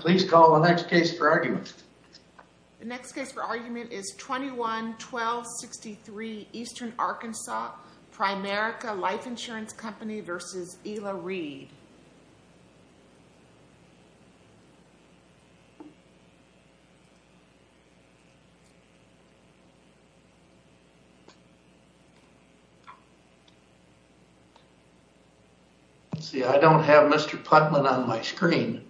Please call the next case for argument. The next case for argument is 21-1263 Eastern Arkansas Primerica Life Insurance Company v. Ila Reid. I don't have Mr. Putman on my screen.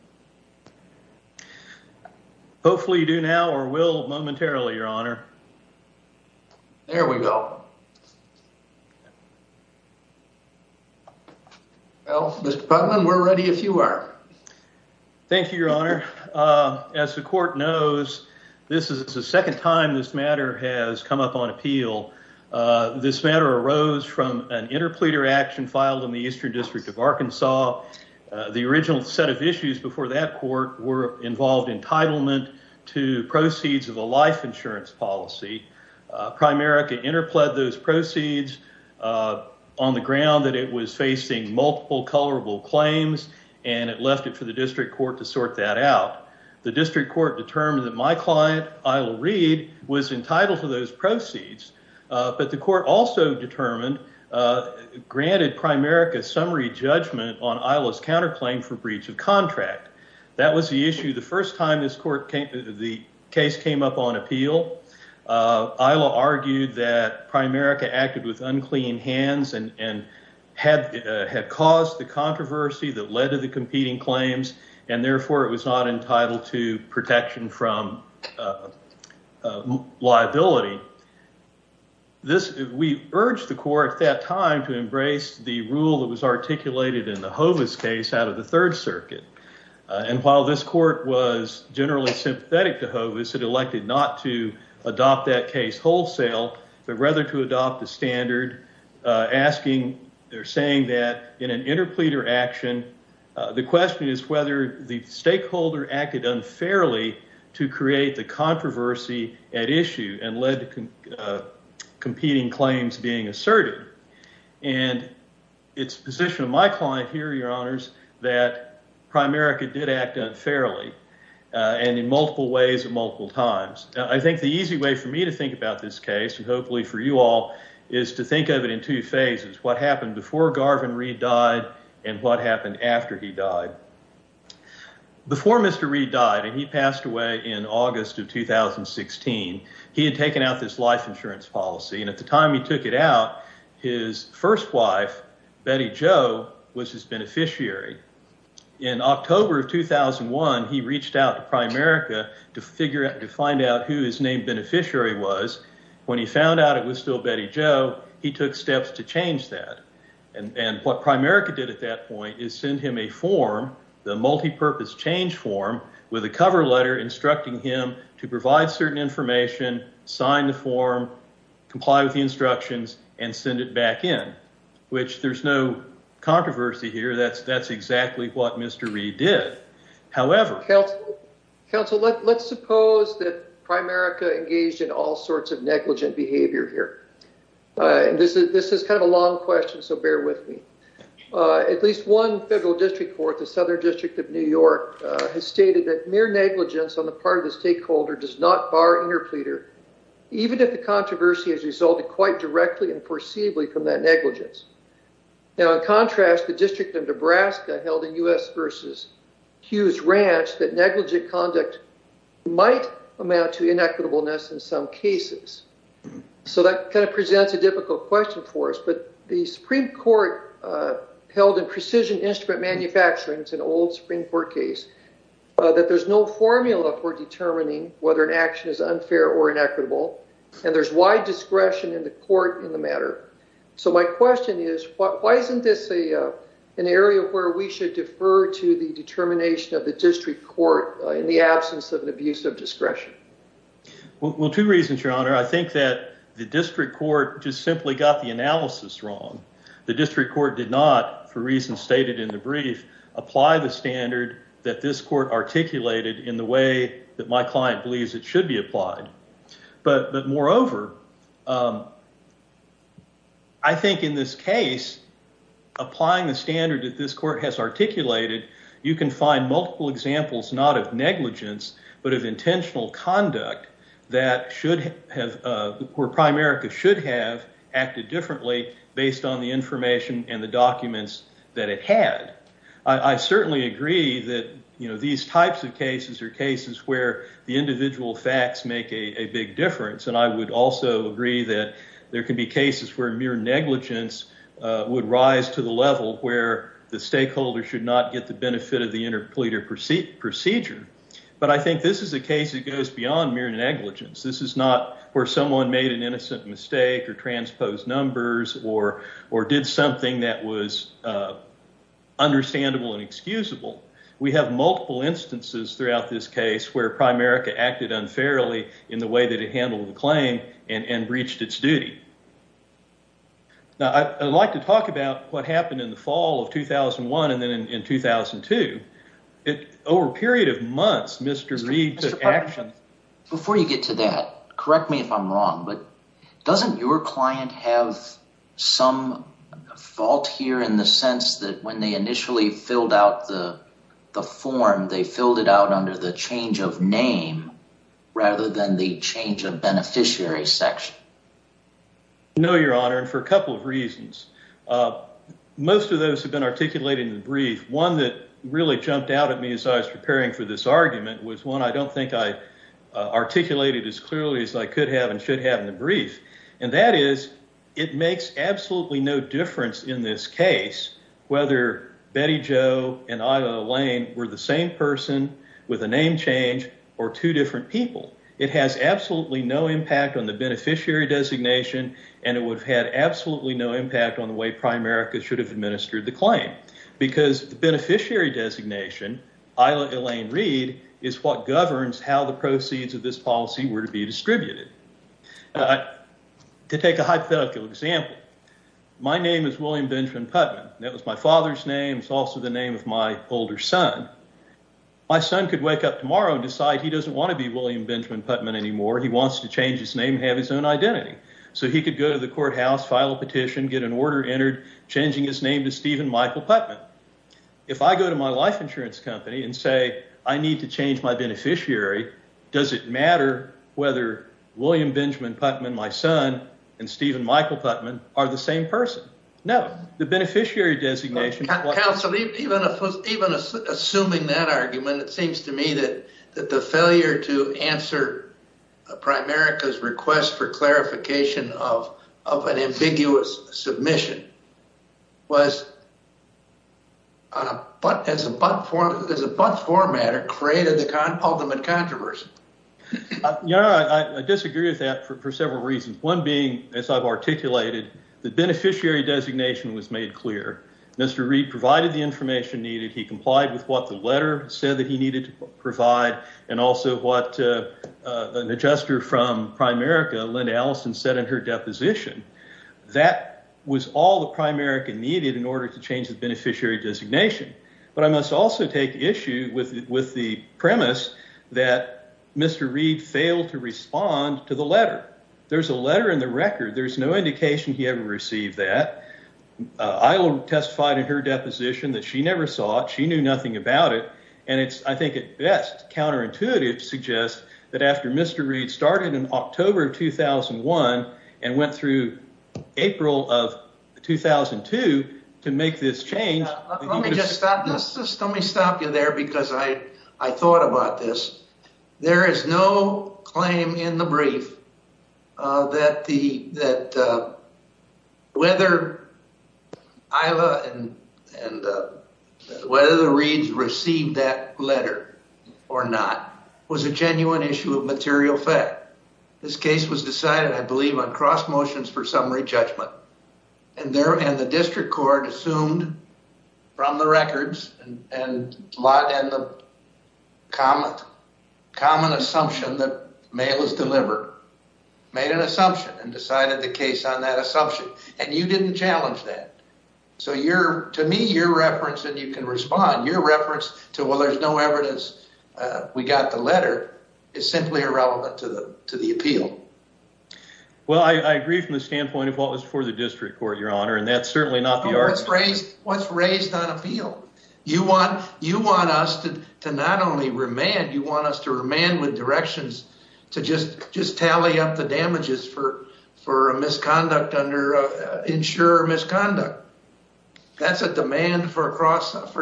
Hopefully you do now or will momentarily, Your Honor. There we go. Well, Mr. Putman, we're ready if you are. Thank you, Your Honor. As the court knows, this is the second time this matter has come up on appeal. This matter arose from an interpleader action filed in the Eastern District of Arkansas. The original set of issues before that court were involved entitlement to proceeds of a life insurance policy. Primerica interpled those proceeds on the ground that it was facing multiple colorable claims, and it left it for the district court to sort that out. The district court determined that my client, Ila Reid, was entitled to those proceeds, but the court also determined, granted Primerica summary judgment on Ila's counterclaim for breach of contract. That was the issue the first time the case came up on appeal. Ila argued that Primerica acted with unclean hands and had caused the controversy that led to the competing claims, and therefore it was not entitled to protection from liability. We urged the court at that time to embrace the rule that was articulated in the Hovis case out of the Third Circuit, and while this court was generally sympathetic to Hovis, it elected not to adopt that case wholesale, but rather to adopt the standard, saying that in an interpleader action, the question is whether the stakeholder acted unfairly to create the controversy at issue and led to competing claims being asserted, and it's the position of my client here, Your Honors, that Primerica did act unfairly and in multiple ways at multiple times. I think the easy way for me to think about this case, and hopefully for you all, is to think of it in two phases, what happened before Garvin Reid died and what happened after he died. Before Mr. Reid died, and he passed away in August of 2016, he had taken out this life insurance policy, and at the time he took it out, his first wife, Betty Jo, was his beneficiary. In October of 2001, he reached out to Primerica to find out who his named beneficiary was. When he found out it was still Betty Jo, he took steps to change that, and what Primerica did at that point is send him a multi-purpose change form with a cover letter instructing him to provide certain information, sign the form, comply with the instructions, and send it back in, which there's no controversy here. That's exactly what Mr. Reid did. However... Counsel, let's suppose that Primerica engaged in all sorts of negligent behavior here. This is kind of a long question, so bear with me. At least one federal district court, the Southern District of New York, has stated that mere negligence on the part of the stakeholder does not bar interpleader, even if the controversy has resulted quite directly and foreseeably from that negligence. Now, in contrast, the District of Nebraska held a U.S. versus Hughes ranch that negligent conduct might amount to inequitableness in some cases. So that kind of presents a difficult question for us, but the Supreme Court held in precision instrument manufacturing, it's an old Supreme Court case, that there's no formula for determining whether an action is unfair or inequitable, and there's wide discretion in the court in the matter. So my question is, why isn't this an area where we should defer to the determination of the district court in the absence of an abuse of discretion? Well, two reasons, Your Honor. I think that the district court just simply got the analysis wrong. The district court did not, for reasons stated in the brief, apply the standard that this court articulated in the way that my client believes it should be applied. But moreover, I think in this case, applying the standard that this court has articulated, you can find multiple examples not of negligence, but of intentional conduct that should have, where Primerica should have acted differently based on the information and the documents that it had. I certainly agree that, you know, these types of cases are cases where the individual facts make a big difference, and I would also agree that there can be cases where mere negligence would rise to the level where the stakeholder should not get the benefit of negligence. This is not where someone made an innocent mistake or transposed numbers or did something that was understandable and excusable. We have multiple instances throughout this case where Primerica acted unfairly in the way that it handled the claim and breached its duty. Now, I'd like to talk about what happened in the fall of 2001 and then in 2002. Over a period of months, Mr. Reed took action. Before you get to that, correct me if I'm wrong, but doesn't your client have some fault here in the sense that when they initially filled out the form, they filled it out under the change of name rather than the change of beneficiary section? No, Your Honor, and for a couple of reasons. Most of those who've been articulating the brief, one that really jumped out at me as I was preparing for this argument was one I don't think I articulated as clearly as I could have and should have in the brief, and that is it makes absolutely no difference in this case whether Betty Jo and Ida Lane were the same person with a name change or two different people. It has absolutely no impact on the beneficiary designation, and it would have had absolutely no impact on the way Primerica should have been. The beneficiary designation, Ida Lane Reed, is what governs how the proceeds of this policy were to be distributed. To take a hypothetical example, my name is William Benjamin Putman. That was my father's name. It's also the name of my older son. My son could wake up tomorrow and decide he doesn't want to be William Benjamin Putman anymore. He wants to change his name and have his own identity, so he could go to the courthouse, file a petition, get an order entered changing his name to Stephen Michael Putman. If I go to my life insurance company and say I need to change my beneficiary, does it matter whether William Benjamin Putman, my son, and Stephen Michael Putman are the same person? No. The beneficiary designation... Counsel, even assuming that argument, it seems to me that the failure to answer Primerica's request for clarification of an ambiguous submission was as a butt formatter, created the ultimate controversy. Yeah, I disagree with that for several reasons. One being, as I've articulated, the beneficiary designation was made clear. Mr. Reed provided the information needed. He complied with what the letter said that he needed to provide, and also what an adjuster from Primerica, Linda Allison, said in her deposition. That was all that Primerica needed in order to change the beneficiary designation. But I must also take issue with the premise that Mr. Reed failed to respond to the letter. There's a letter in the record. There's no indication he ever about it. I think it's counterintuitive to suggest that after Mr. Reed started in October of 2001 and went through April of 2002 to make this change... Let me stop you there because I thought about this. There is no claim in the brief that whether ILA and whether the Reeds received that letter or not was a genuine issue of material fact. This case was decided, I believe, on cross motions for summary judgment, and the district court assumed from the records and the common assumption that mail is delivered made an assumption and decided the case on that assumption, and you didn't challenge that. So to me, your reference, and you can respond, your reference to, well, there's no evidence we got the letter is simply irrelevant to the appeal. Well, I agree from the standpoint of what was for the district court, your honor, and that's certainly not the argument. What's raised on appeal? You want us to not only remand, you want us to remand with directions to just tally up the damages for a misconduct under insurer misconduct. That's a demand for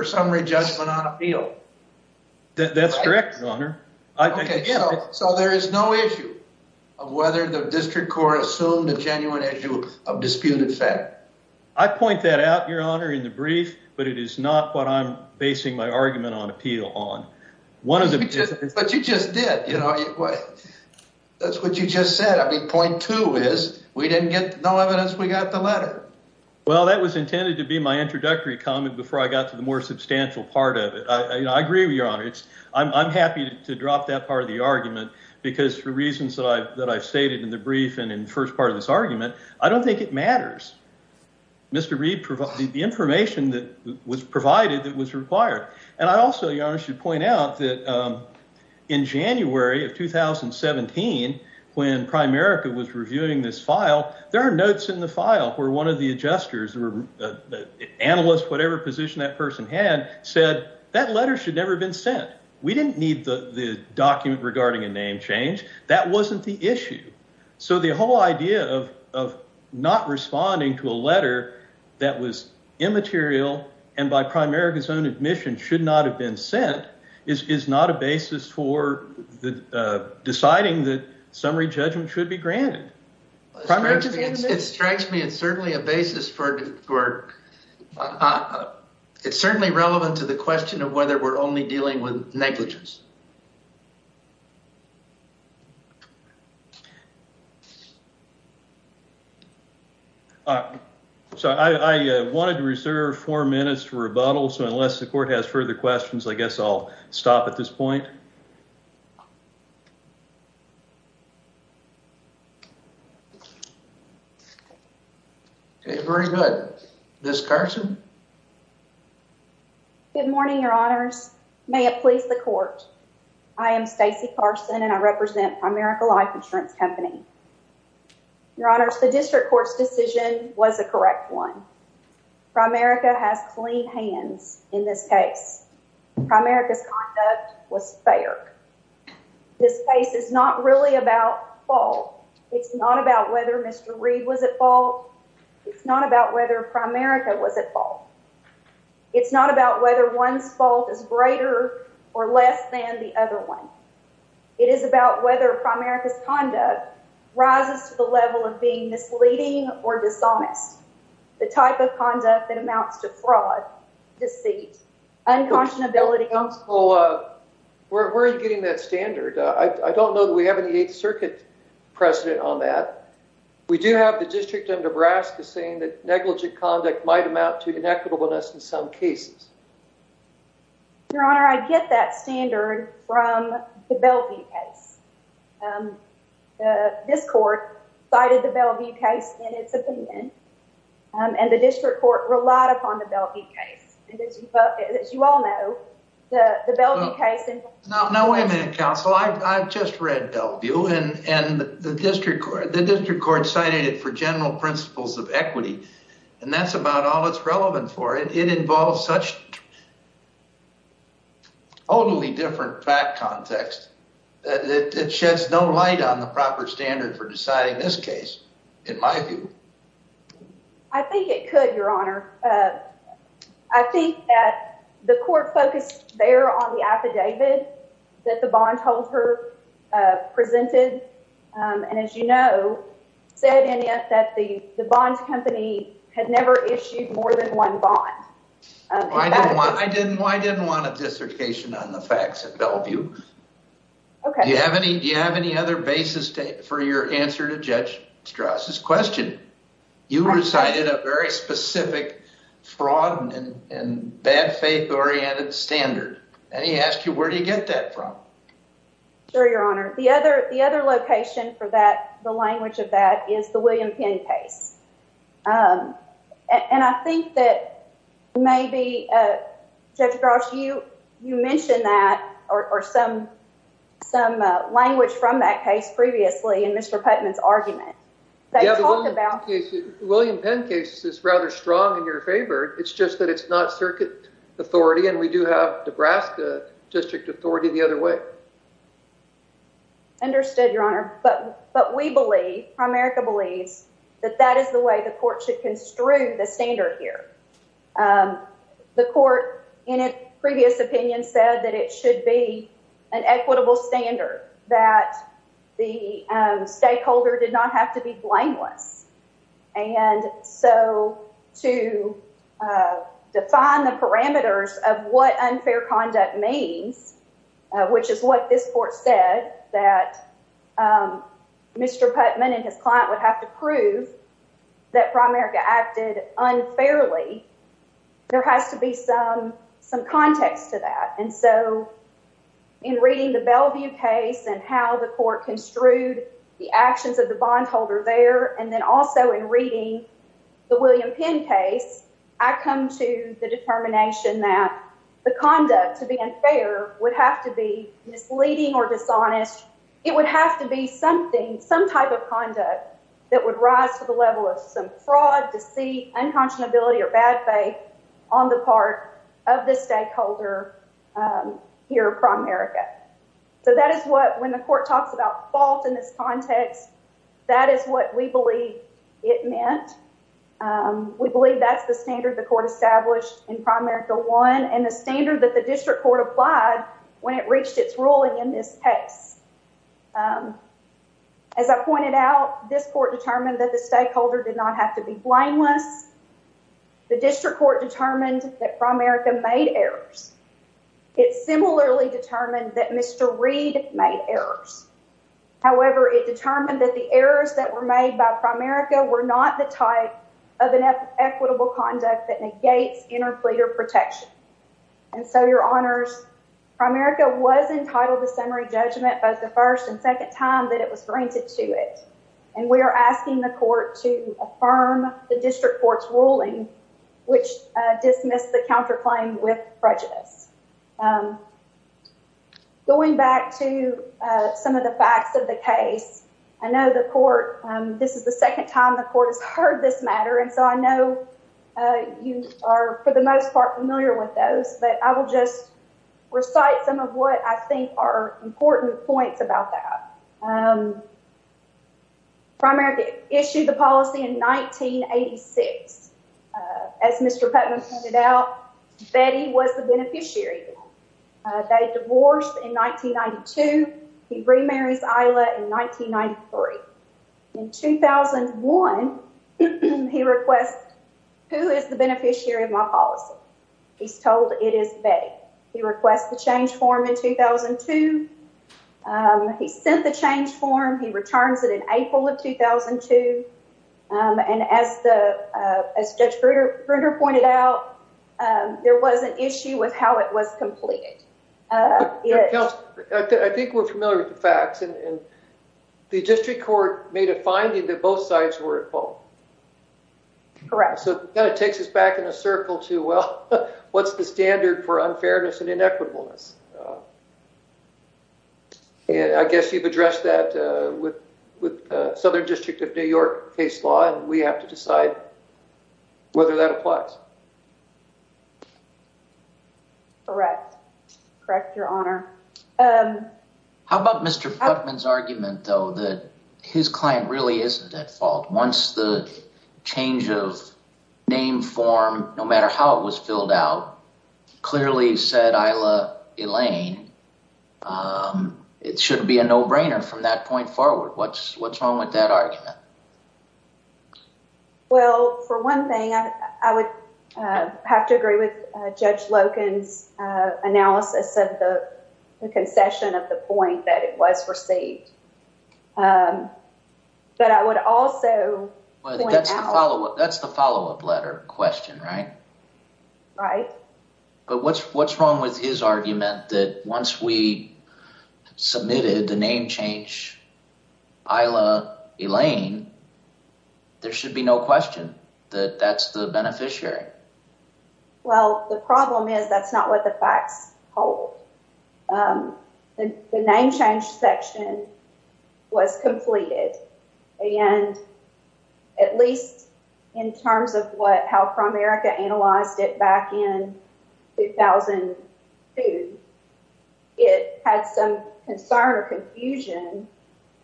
summary judgment on appeal. That's correct, your honor. So there is no issue of whether the district court assumed a genuine issue of disputed fact? I point that out, your honor, in the brief, but it is not what I'm basing my argument on appeal on. One of the, but you just did, you know, that's what you just said. I mean, point two is we didn't get no evidence. We got the letter. Well, that was intended to be my introductory comment before I got to the more substantial part of it. I agree with your honor. I'm happy to drop that part of the argument because for reasons that I've stated in the brief and in the first part of this argument, I don't think it matters. Mr. Reed provided the information that was provided that was required. And I also, your honor, should point out that in January of 2017, when Primerica was reviewing this file, there are notes in the file where one of the adjusters or the analyst, whatever position that person had said that letter should never have been sent. We didn't need the document regarding a name change. That wasn't the issue. So the whole idea of not responding to a letter that was immaterial and by Primerica's own admission should not have been sent is not a basis for deciding that summary judgment should be granted. It strikes me as certainly a basis for, it's certainly relevant to the question of whether we're only dealing with I wanted to reserve four minutes for rebuttal. So unless the court has further questions, I guess I'll stop at this point. Very good. Ms. Carson. Good morning, your honors. May it please the court. I am Stacy Carson and I represent Primerica Life Insurance Company. Your honors, the district court's decision was a correct one. Primerica has clean hands in this case. Primerica's conduct was fair. This case is not really about fault. It's not about whether Mr. Reed was at fault. It's not about whether Primerica was at fault. It's not about whether one's fault is greater or less than the other one. It is about whether Primerica's conduct rises to the level of being misleading or dishonest. The type of conduct that amounts to fraud, deceit, unconscionability. Where are you getting that standard? I don't know that we have any Eighth Circuit precedent on that. We do have the District of Nebraska saying that negligent conduct might amount to inequitableness in some cases. Your honor, I get that standard from the Bellevue case. This court cited the Bellevue case in its opinion and the district court relied upon the Bellevue case. As you all know, the Bellevue case No, wait a minute, counsel. I've just read Bellevue and the district court cited it for general principles of equity and that's about all that's relevant for it. It involves such a totally different fact context that it sheds no light on the proper standard for deciding this case in my view. I think it could, your honor. I think that the court focused there on the affidavit that the bondholder presented and, as you know, said in it that the the bond company had never issued more than one bond. I didn't want a dissertation on the facts at Bellevue. Okay. Do you have any other basis for your answer to Judge Strauss's question? You recited a very specific fraud and bad faith oriented standard and he asked you where do you get that from? Sure, your honor. The other location for that, the language of that, is the William Penn case. And I think that maybe, Judge Strauss, you mentioned that or some language from that case previously in Mr. Putnam's argument. The William Penn case is rather strong in your favor. It's just that it's not circuit authority and we do have Nebraska district authority the other way. Understood, your honor. But we believe, Primerica believes, that that is the way court should construe the standard here. The court, in its previous opinion, said that it should be an equitable standard, that the stakeholder did not have to be blameless. And so to define the parameters of what unfair conduct means, which is what this court said, that Mr. Putnam and his client would have to prove that Primerica acted unfairly, there has to be some context to that. And so in reading the Bellevue case and how the court construed the actions of the bondholder there, and then also in reading the William Penn case, I come to the determination that the conduct, to be unfair, would have to be misleading or dishonest. It would have to be something, some type of conduct, that would rise to the level of some fraud, deceit, unconscionability, or bad faith on the part of the stakeholder here at Primerica. So that is what, when the court talks about fault in this context, that is what we believe it meant. We believe that's the standard the court established in Primerica 1 and the As I pointed out, this court determined that the stakeholder did not have to be blameless. The district court determined that Primerica made errors. It similarly determined that Mr. Reed made errors. However, it determined that the errors that were made by Primerica were not the type of equitable conduct that negates interpleader protection. And so, your honors, Primerica was entitled to summary judgment both the first and second time that it was granted to it, and we are asking the court to affirm the district court's ruling, which dismissed the counterclaim with prejudice. Going back to some of the facts of the case, I know the court, this is the second time the I will just recite some of what I think are important points about that. Primerica issued the policy in 1986. As Mr. Putnam pointed out, Betty was the beneficiary. They divorced in 1992. He remarries Isla in 1993. In 2001, he requests, who is the beneficiary of my policy? He's told it is Betty. He requests the change form in 2002. He sent the change form. He returns it in April of 2002. And as Judge Bruder pointed out, there was an issue with how it was completed. I think we're familiar with the facts, and the district court made a finding that both sides were at fault. So it kind of takes us back in a circle to, well, what's the standard for unfairness and inequitableness? I guess you've addressed that with Southern District of New York case law, and we have to decide whether that applies. Correct. Correct, your honor. How about Mr. Putnam's argument, though, that his client really isn't at fault? Once the change of name form, no matter how it was filled out, clearly said Isla Elaine. It should be a no-brainer from that point forward. What's wrong with that argument? Well, for one thing, I would have to agree with Judge Loken's analysis of the concession of the point that it was received. But I would also point out- That's the follow-up letter question, right? Right. But what's wrong with his argument that once we submitted the name change, Isla Elaine, there should be no question that that's the beneficiary? Well, the problem is that's not what the facts hold. The name change section was completed, and at least in terms of how ProAmerica analyzed it back in 2002, it had some concern or confusion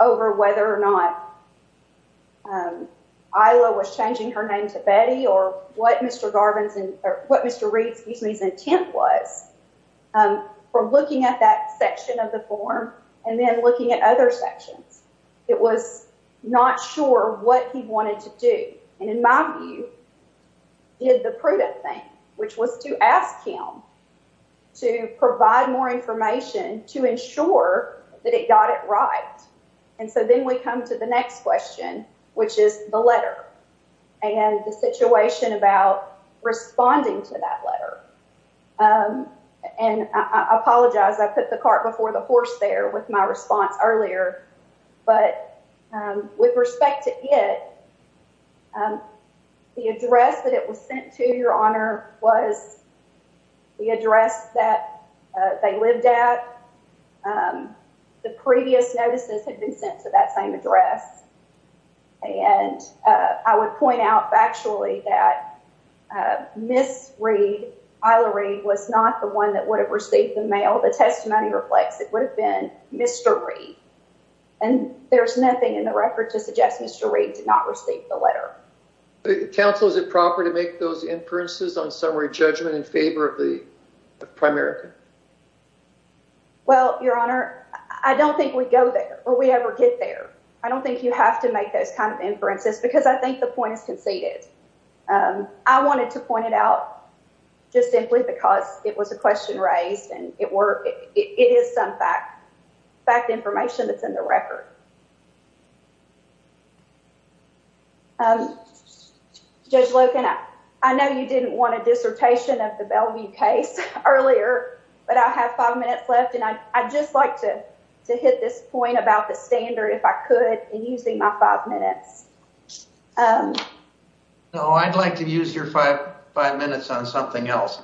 over whether or not Isla was changing her name to Betty or what Mr. Reed's intent was for looking at that section of the form and then looking at other sections. It was not sure what he wanted to do, and in my view, did the prudent thing, which was to ask him to provide more information to ensure that it got it right. And so then we come to the next question, which is the letter and the situation about responding to that letter. And I apologize. I put the cart before the horse there with my response earlier. But with respect to it, the address that it was sent to, Your Honor, was the address that they lived at. The previous notices had been sent to that same address, and I would point out factually that Miss Reed, Isla Reed, was not the one that would have received the mail. The testimony reflects it would have been Mr. Reed. And there's nothing in the record to suggest Mr. Reed did not receive the letter. Counsel, is it proper to make those inferences on summary judgment in favor of the primary? Well, Your Honor, I don't think we go there or we ever get there. I don't think you have to make those kind of inferences because I think the point is conceded. I wanted to point it out just simply because it was a question raised and it is some fact information that's in the record. Judge Loken, I know you didn't want a dissertation of the Bellevue case earlier, but I have five minutes left and I'd just like to hit this point about the standard, if I could, in using my five minutes. No, I'd like to use your five minutes on something else.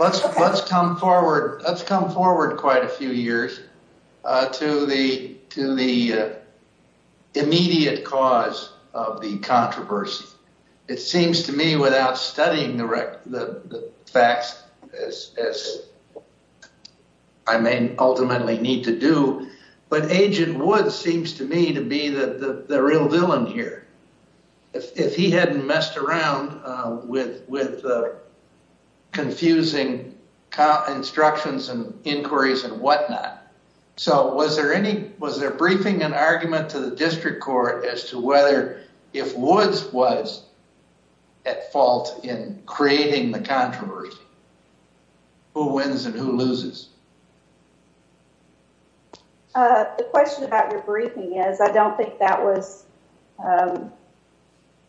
Let's come forward quite a few years to the immediate cause of the controversy. It seems to me without studying the facts as I may ultimately need to do, but Agent Wood seems to me to be the real villain here. If he hadn't messed around with confusing instructions and inquiries and whatnot. So was there any, was there briefing and argument to the district court as to whether if Woods was at fault in creating the controversy, who wins and who loses? The question about your briefing is, I don't think that was a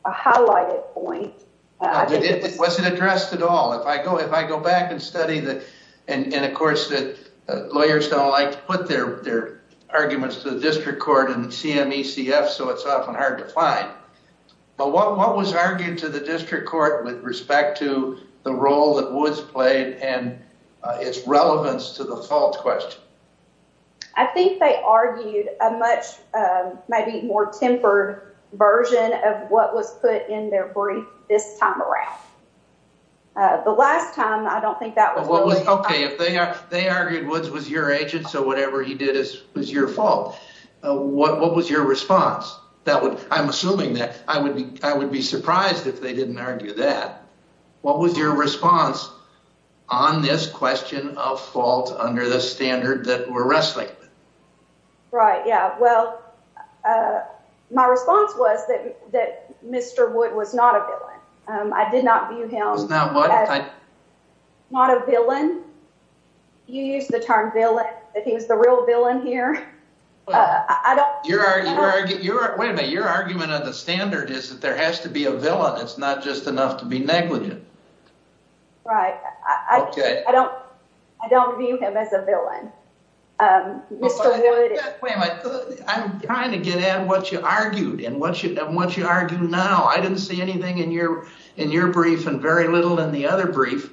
highlighted point. It wasn't addressed at all. If I go back and study that, and of course that lawyers don't like to put their arguments to the district court and the CMECF, so it's often hard to find. But what was argued to the district court with respect to the role that Woods played and its relevance to the fault question? I think they argued a much maybe more tempered version of what was put in their brief this time around. The last time, I don't think that was. Okay, if they argued Woods was your agent, so whatever he did was your fault. What was your response? I'm assuming that I would be surprised if they didn't argue that. What was your response on this question of fault under the standard that we're wrestling with? Right, yeah. Well, my response was that Mr. Wood was not a villain. I did not view him as not a villain. You used the term villain, that he was the real villain here. Wait a minute, your argument on the standard is that there has to be a villain, it's not just enough to be negligent. Right, I don't view him as a villain. Wait a minute, I'm trying to get at what you argued and what you argue now. I didn't see anything in your brief and very little in the other brief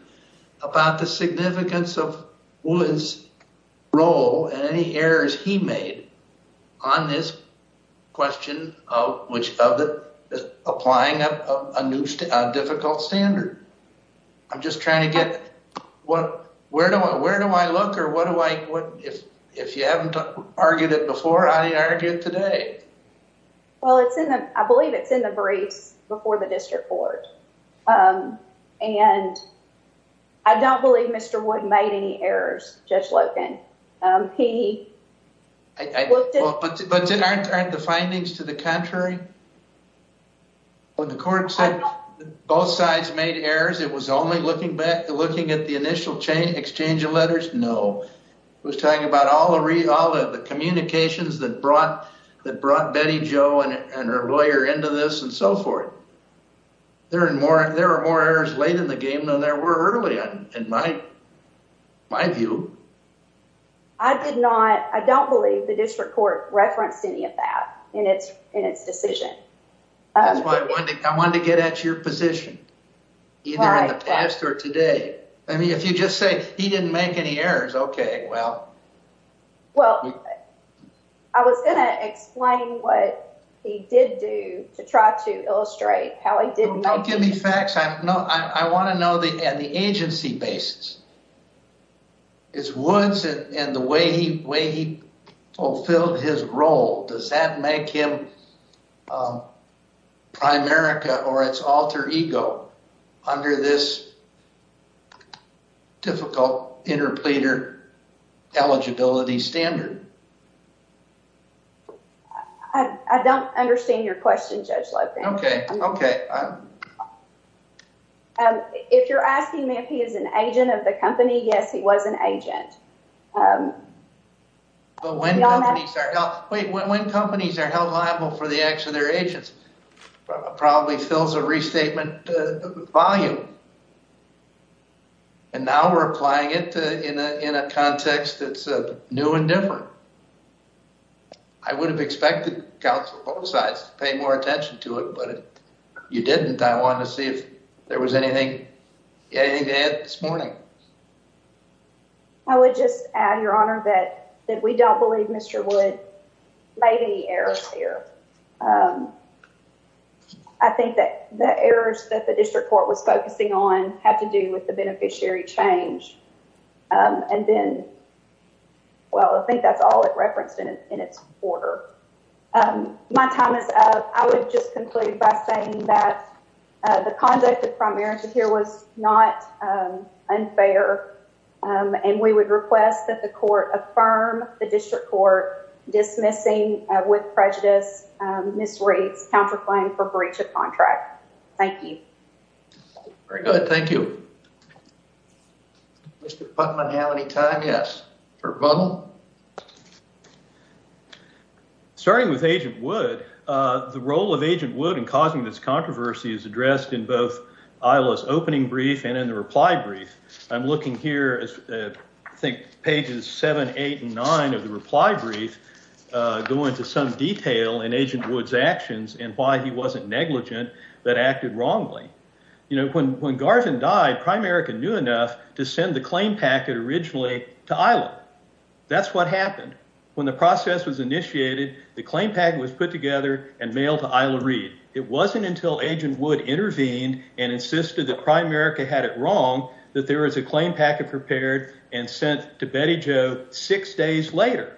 about the significance of Woods' role and any errors he made on this question of which of the applying a new difficult standard. I'm just trying to get what, where do I look or what do I, if you haven't argued it before, how do you argue it today? Well, it's in the, I believe it's in the briefs before the district court and I don't believe Mr. Wood made any errors, Judge Loken. But aren't the findings to the contrary? When the court said both sides made errors, it was only looking at the initial exchange of letters? No. It was talking about all the communications that brought Betty Jo and her lawyer into this and so forth. There are more errors late in the game than there were early in my view. I did not, I don't believe the district court referenced any of that in its decision. That's why I wanted to get at your position, either in the past or today. I mean, if you just say he didn't make any errors, okay, well. Well, I was going to explain what he did do to try to illustrate how he didn't. Don't give me facts. I want to know the agency basis. Is Woods and the way he fulfilled his role, does that make him Primerica or its alter ego under this difficult interpleader eligibility standard? I don't understand your question, Judge Loken. Okay, okay. If you're asking me if he is an agent of the company, yes, he was an agent. But when companies are held liable for the acts of their agents, probably fills a restatement volume. And now we're applying it in a context that's new and different. I would have expected counsel both sides to pay more attention to it, but you didn't. I wanted to see if there was anything to add this morning. I would just add, Your Honor, that we don't believe Mr. Wood made any errors here. I think that the errors that the district court was focusing on had to do with the beneficiary change. And then, well, I think that's all it referenced in its order. My time is up. I would just conclude by saying that the conduct of Primerica here was not unfair. And we would request that the court affirm the district court dismissing with prejudice, misreads, counterclaim for breach of contract. Thank you. Very good. Thank you. Mr. Putnam, do you have any time? Yes. Mr. Butler? Starting with Agent Wood, the role of Agent Wood in causing this controversy is addressed in both ILA's opening brief and in the reply brief. I'm looking here, I think, pages seven, eight, and nine of the reply brief go into some detail in Agent Wood's actions and why he wasn't negligent, but acted wrongly. You know, when Garvin died, Primerica knew enough to send the claim packet originally to ILA. That's what happened. When the process was initiated, the claim packet was put together and mailed to ILA Read. It wasn't until Agent Wood intervened and insisted that Primerica had it wrong that there was a claim packet prepared and sent to Betty Jo six days later.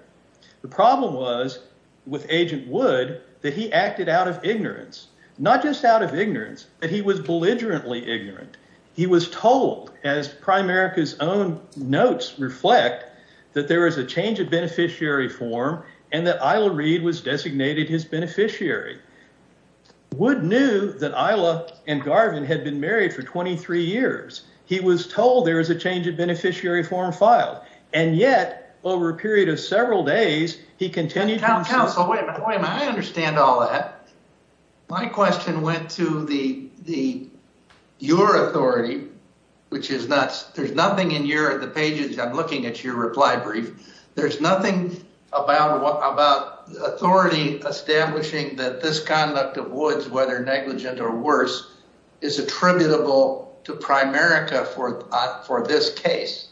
The problem was with Agent Wood that he acted out of ignorance, not just out of ignorance, but he was belligerently ignorant. He was told, as Primerica's own notes reflect, that there was a change of beneficiary form and that ILA Read was designated his beneficiary. Wood knew that ILA and Garvin had been married for 23 years. He was told there was a change of beneficiary form filed, and yet, over a period of several days, he continued... Counsel, wait a minute. Wait a minute. I understand all that. My question went to your authority, which is that there's nothing in the pages. I'm looking at your reply brief. There's nothing about authority establishing that this conduct of Wood's, whether negligent or worse, is attributable to Primerica for this case.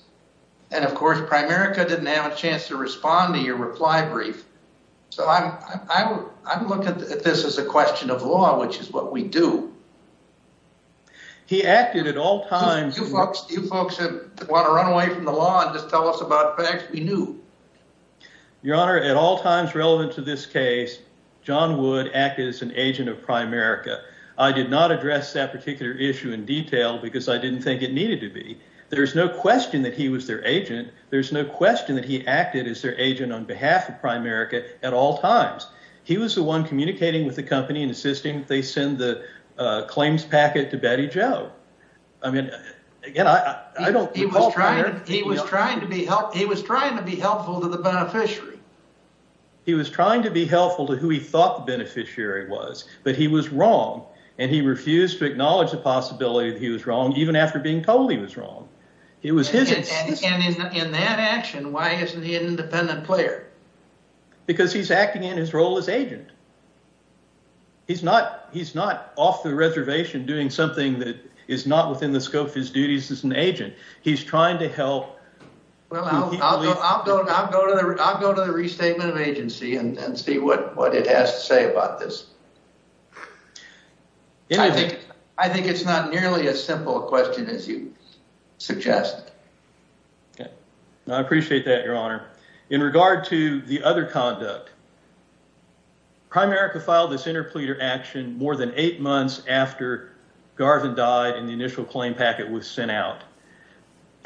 And, of course, Primerica didn't have a chance to reply brief. So I'm looking at this as a question of law, which is what we do. He acted at all times... Do you folks want to run away from the law and just tell us about facts we knew? Your Honor, at all times relevant to this case, John Wood acted as an agent of Primerica. I did not address that particular issue in detail because I didn't think it needed to be. There's no question that he was their agent. There's no question that he acted as their on behalf of Primerica at all times. He was the one communicating with the company and insisting they send the claims packet to Betty Jo. I mean, again, I don't recall... He was trying to be helpful to the beneficiary. He was trying to be helpful to who he thought the beneficiary was, but he was wrong. And he refused to acknowledge the possibility that he was wrong, even after being told he was wrong. It was his... In that action, why isn't he an independent player? Because he's acting in his role as agent. He's not off the reservation doing something that is not within the scope of his duties as an agent. He's trying to help... Well, I'll go to the restatement of agency and see what it has to say about this. I think it's not nearly as simple a question as you suggest. Okay. I appreciate that, Your Honor. In regard to the other conduct, Primerica filed this interpleader action more than eight months after Garvin died and the initial claim packet was sent out.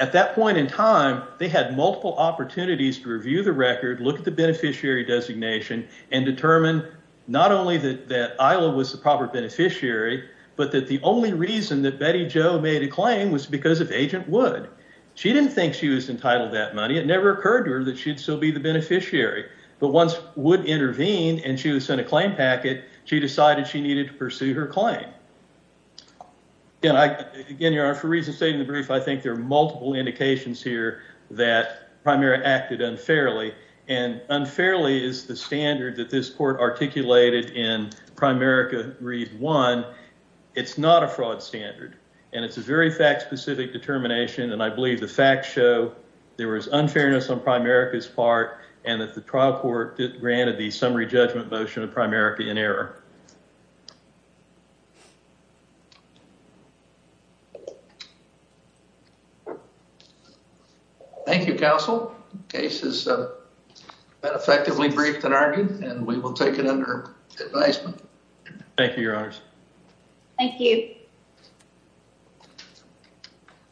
At that point in time, they had multiple opportunities to review the record, look at the beneficiary designation, and determine not only that Isla was the proper beneficiary, but that the only reason that Betty Jo made a claim was because of Agent Wood. She didn't think she was entitled to that money. It never occurred to her that she'd still be the beneficiary. But once Wood intervened and she was sent a claim packet, she decided she needed to pursue her claim. Again, Your Honor, for reasons stated in the brief, I think there are multiple indications here that Primerica acted unfairly, and unfairly is the standard that this court articulated in Primerica Read 1. It's not a fraud standard, and it's a very fact-specific determination, and I believe the facts show there was unfairness on Primerica's part, and that the trial court granted the summary judgment motion of Primerica in error. Thank you, Counsel. The case has been effectively briefed and argued, and we will take it under advisement. Thank you, Your Honors. Thank you.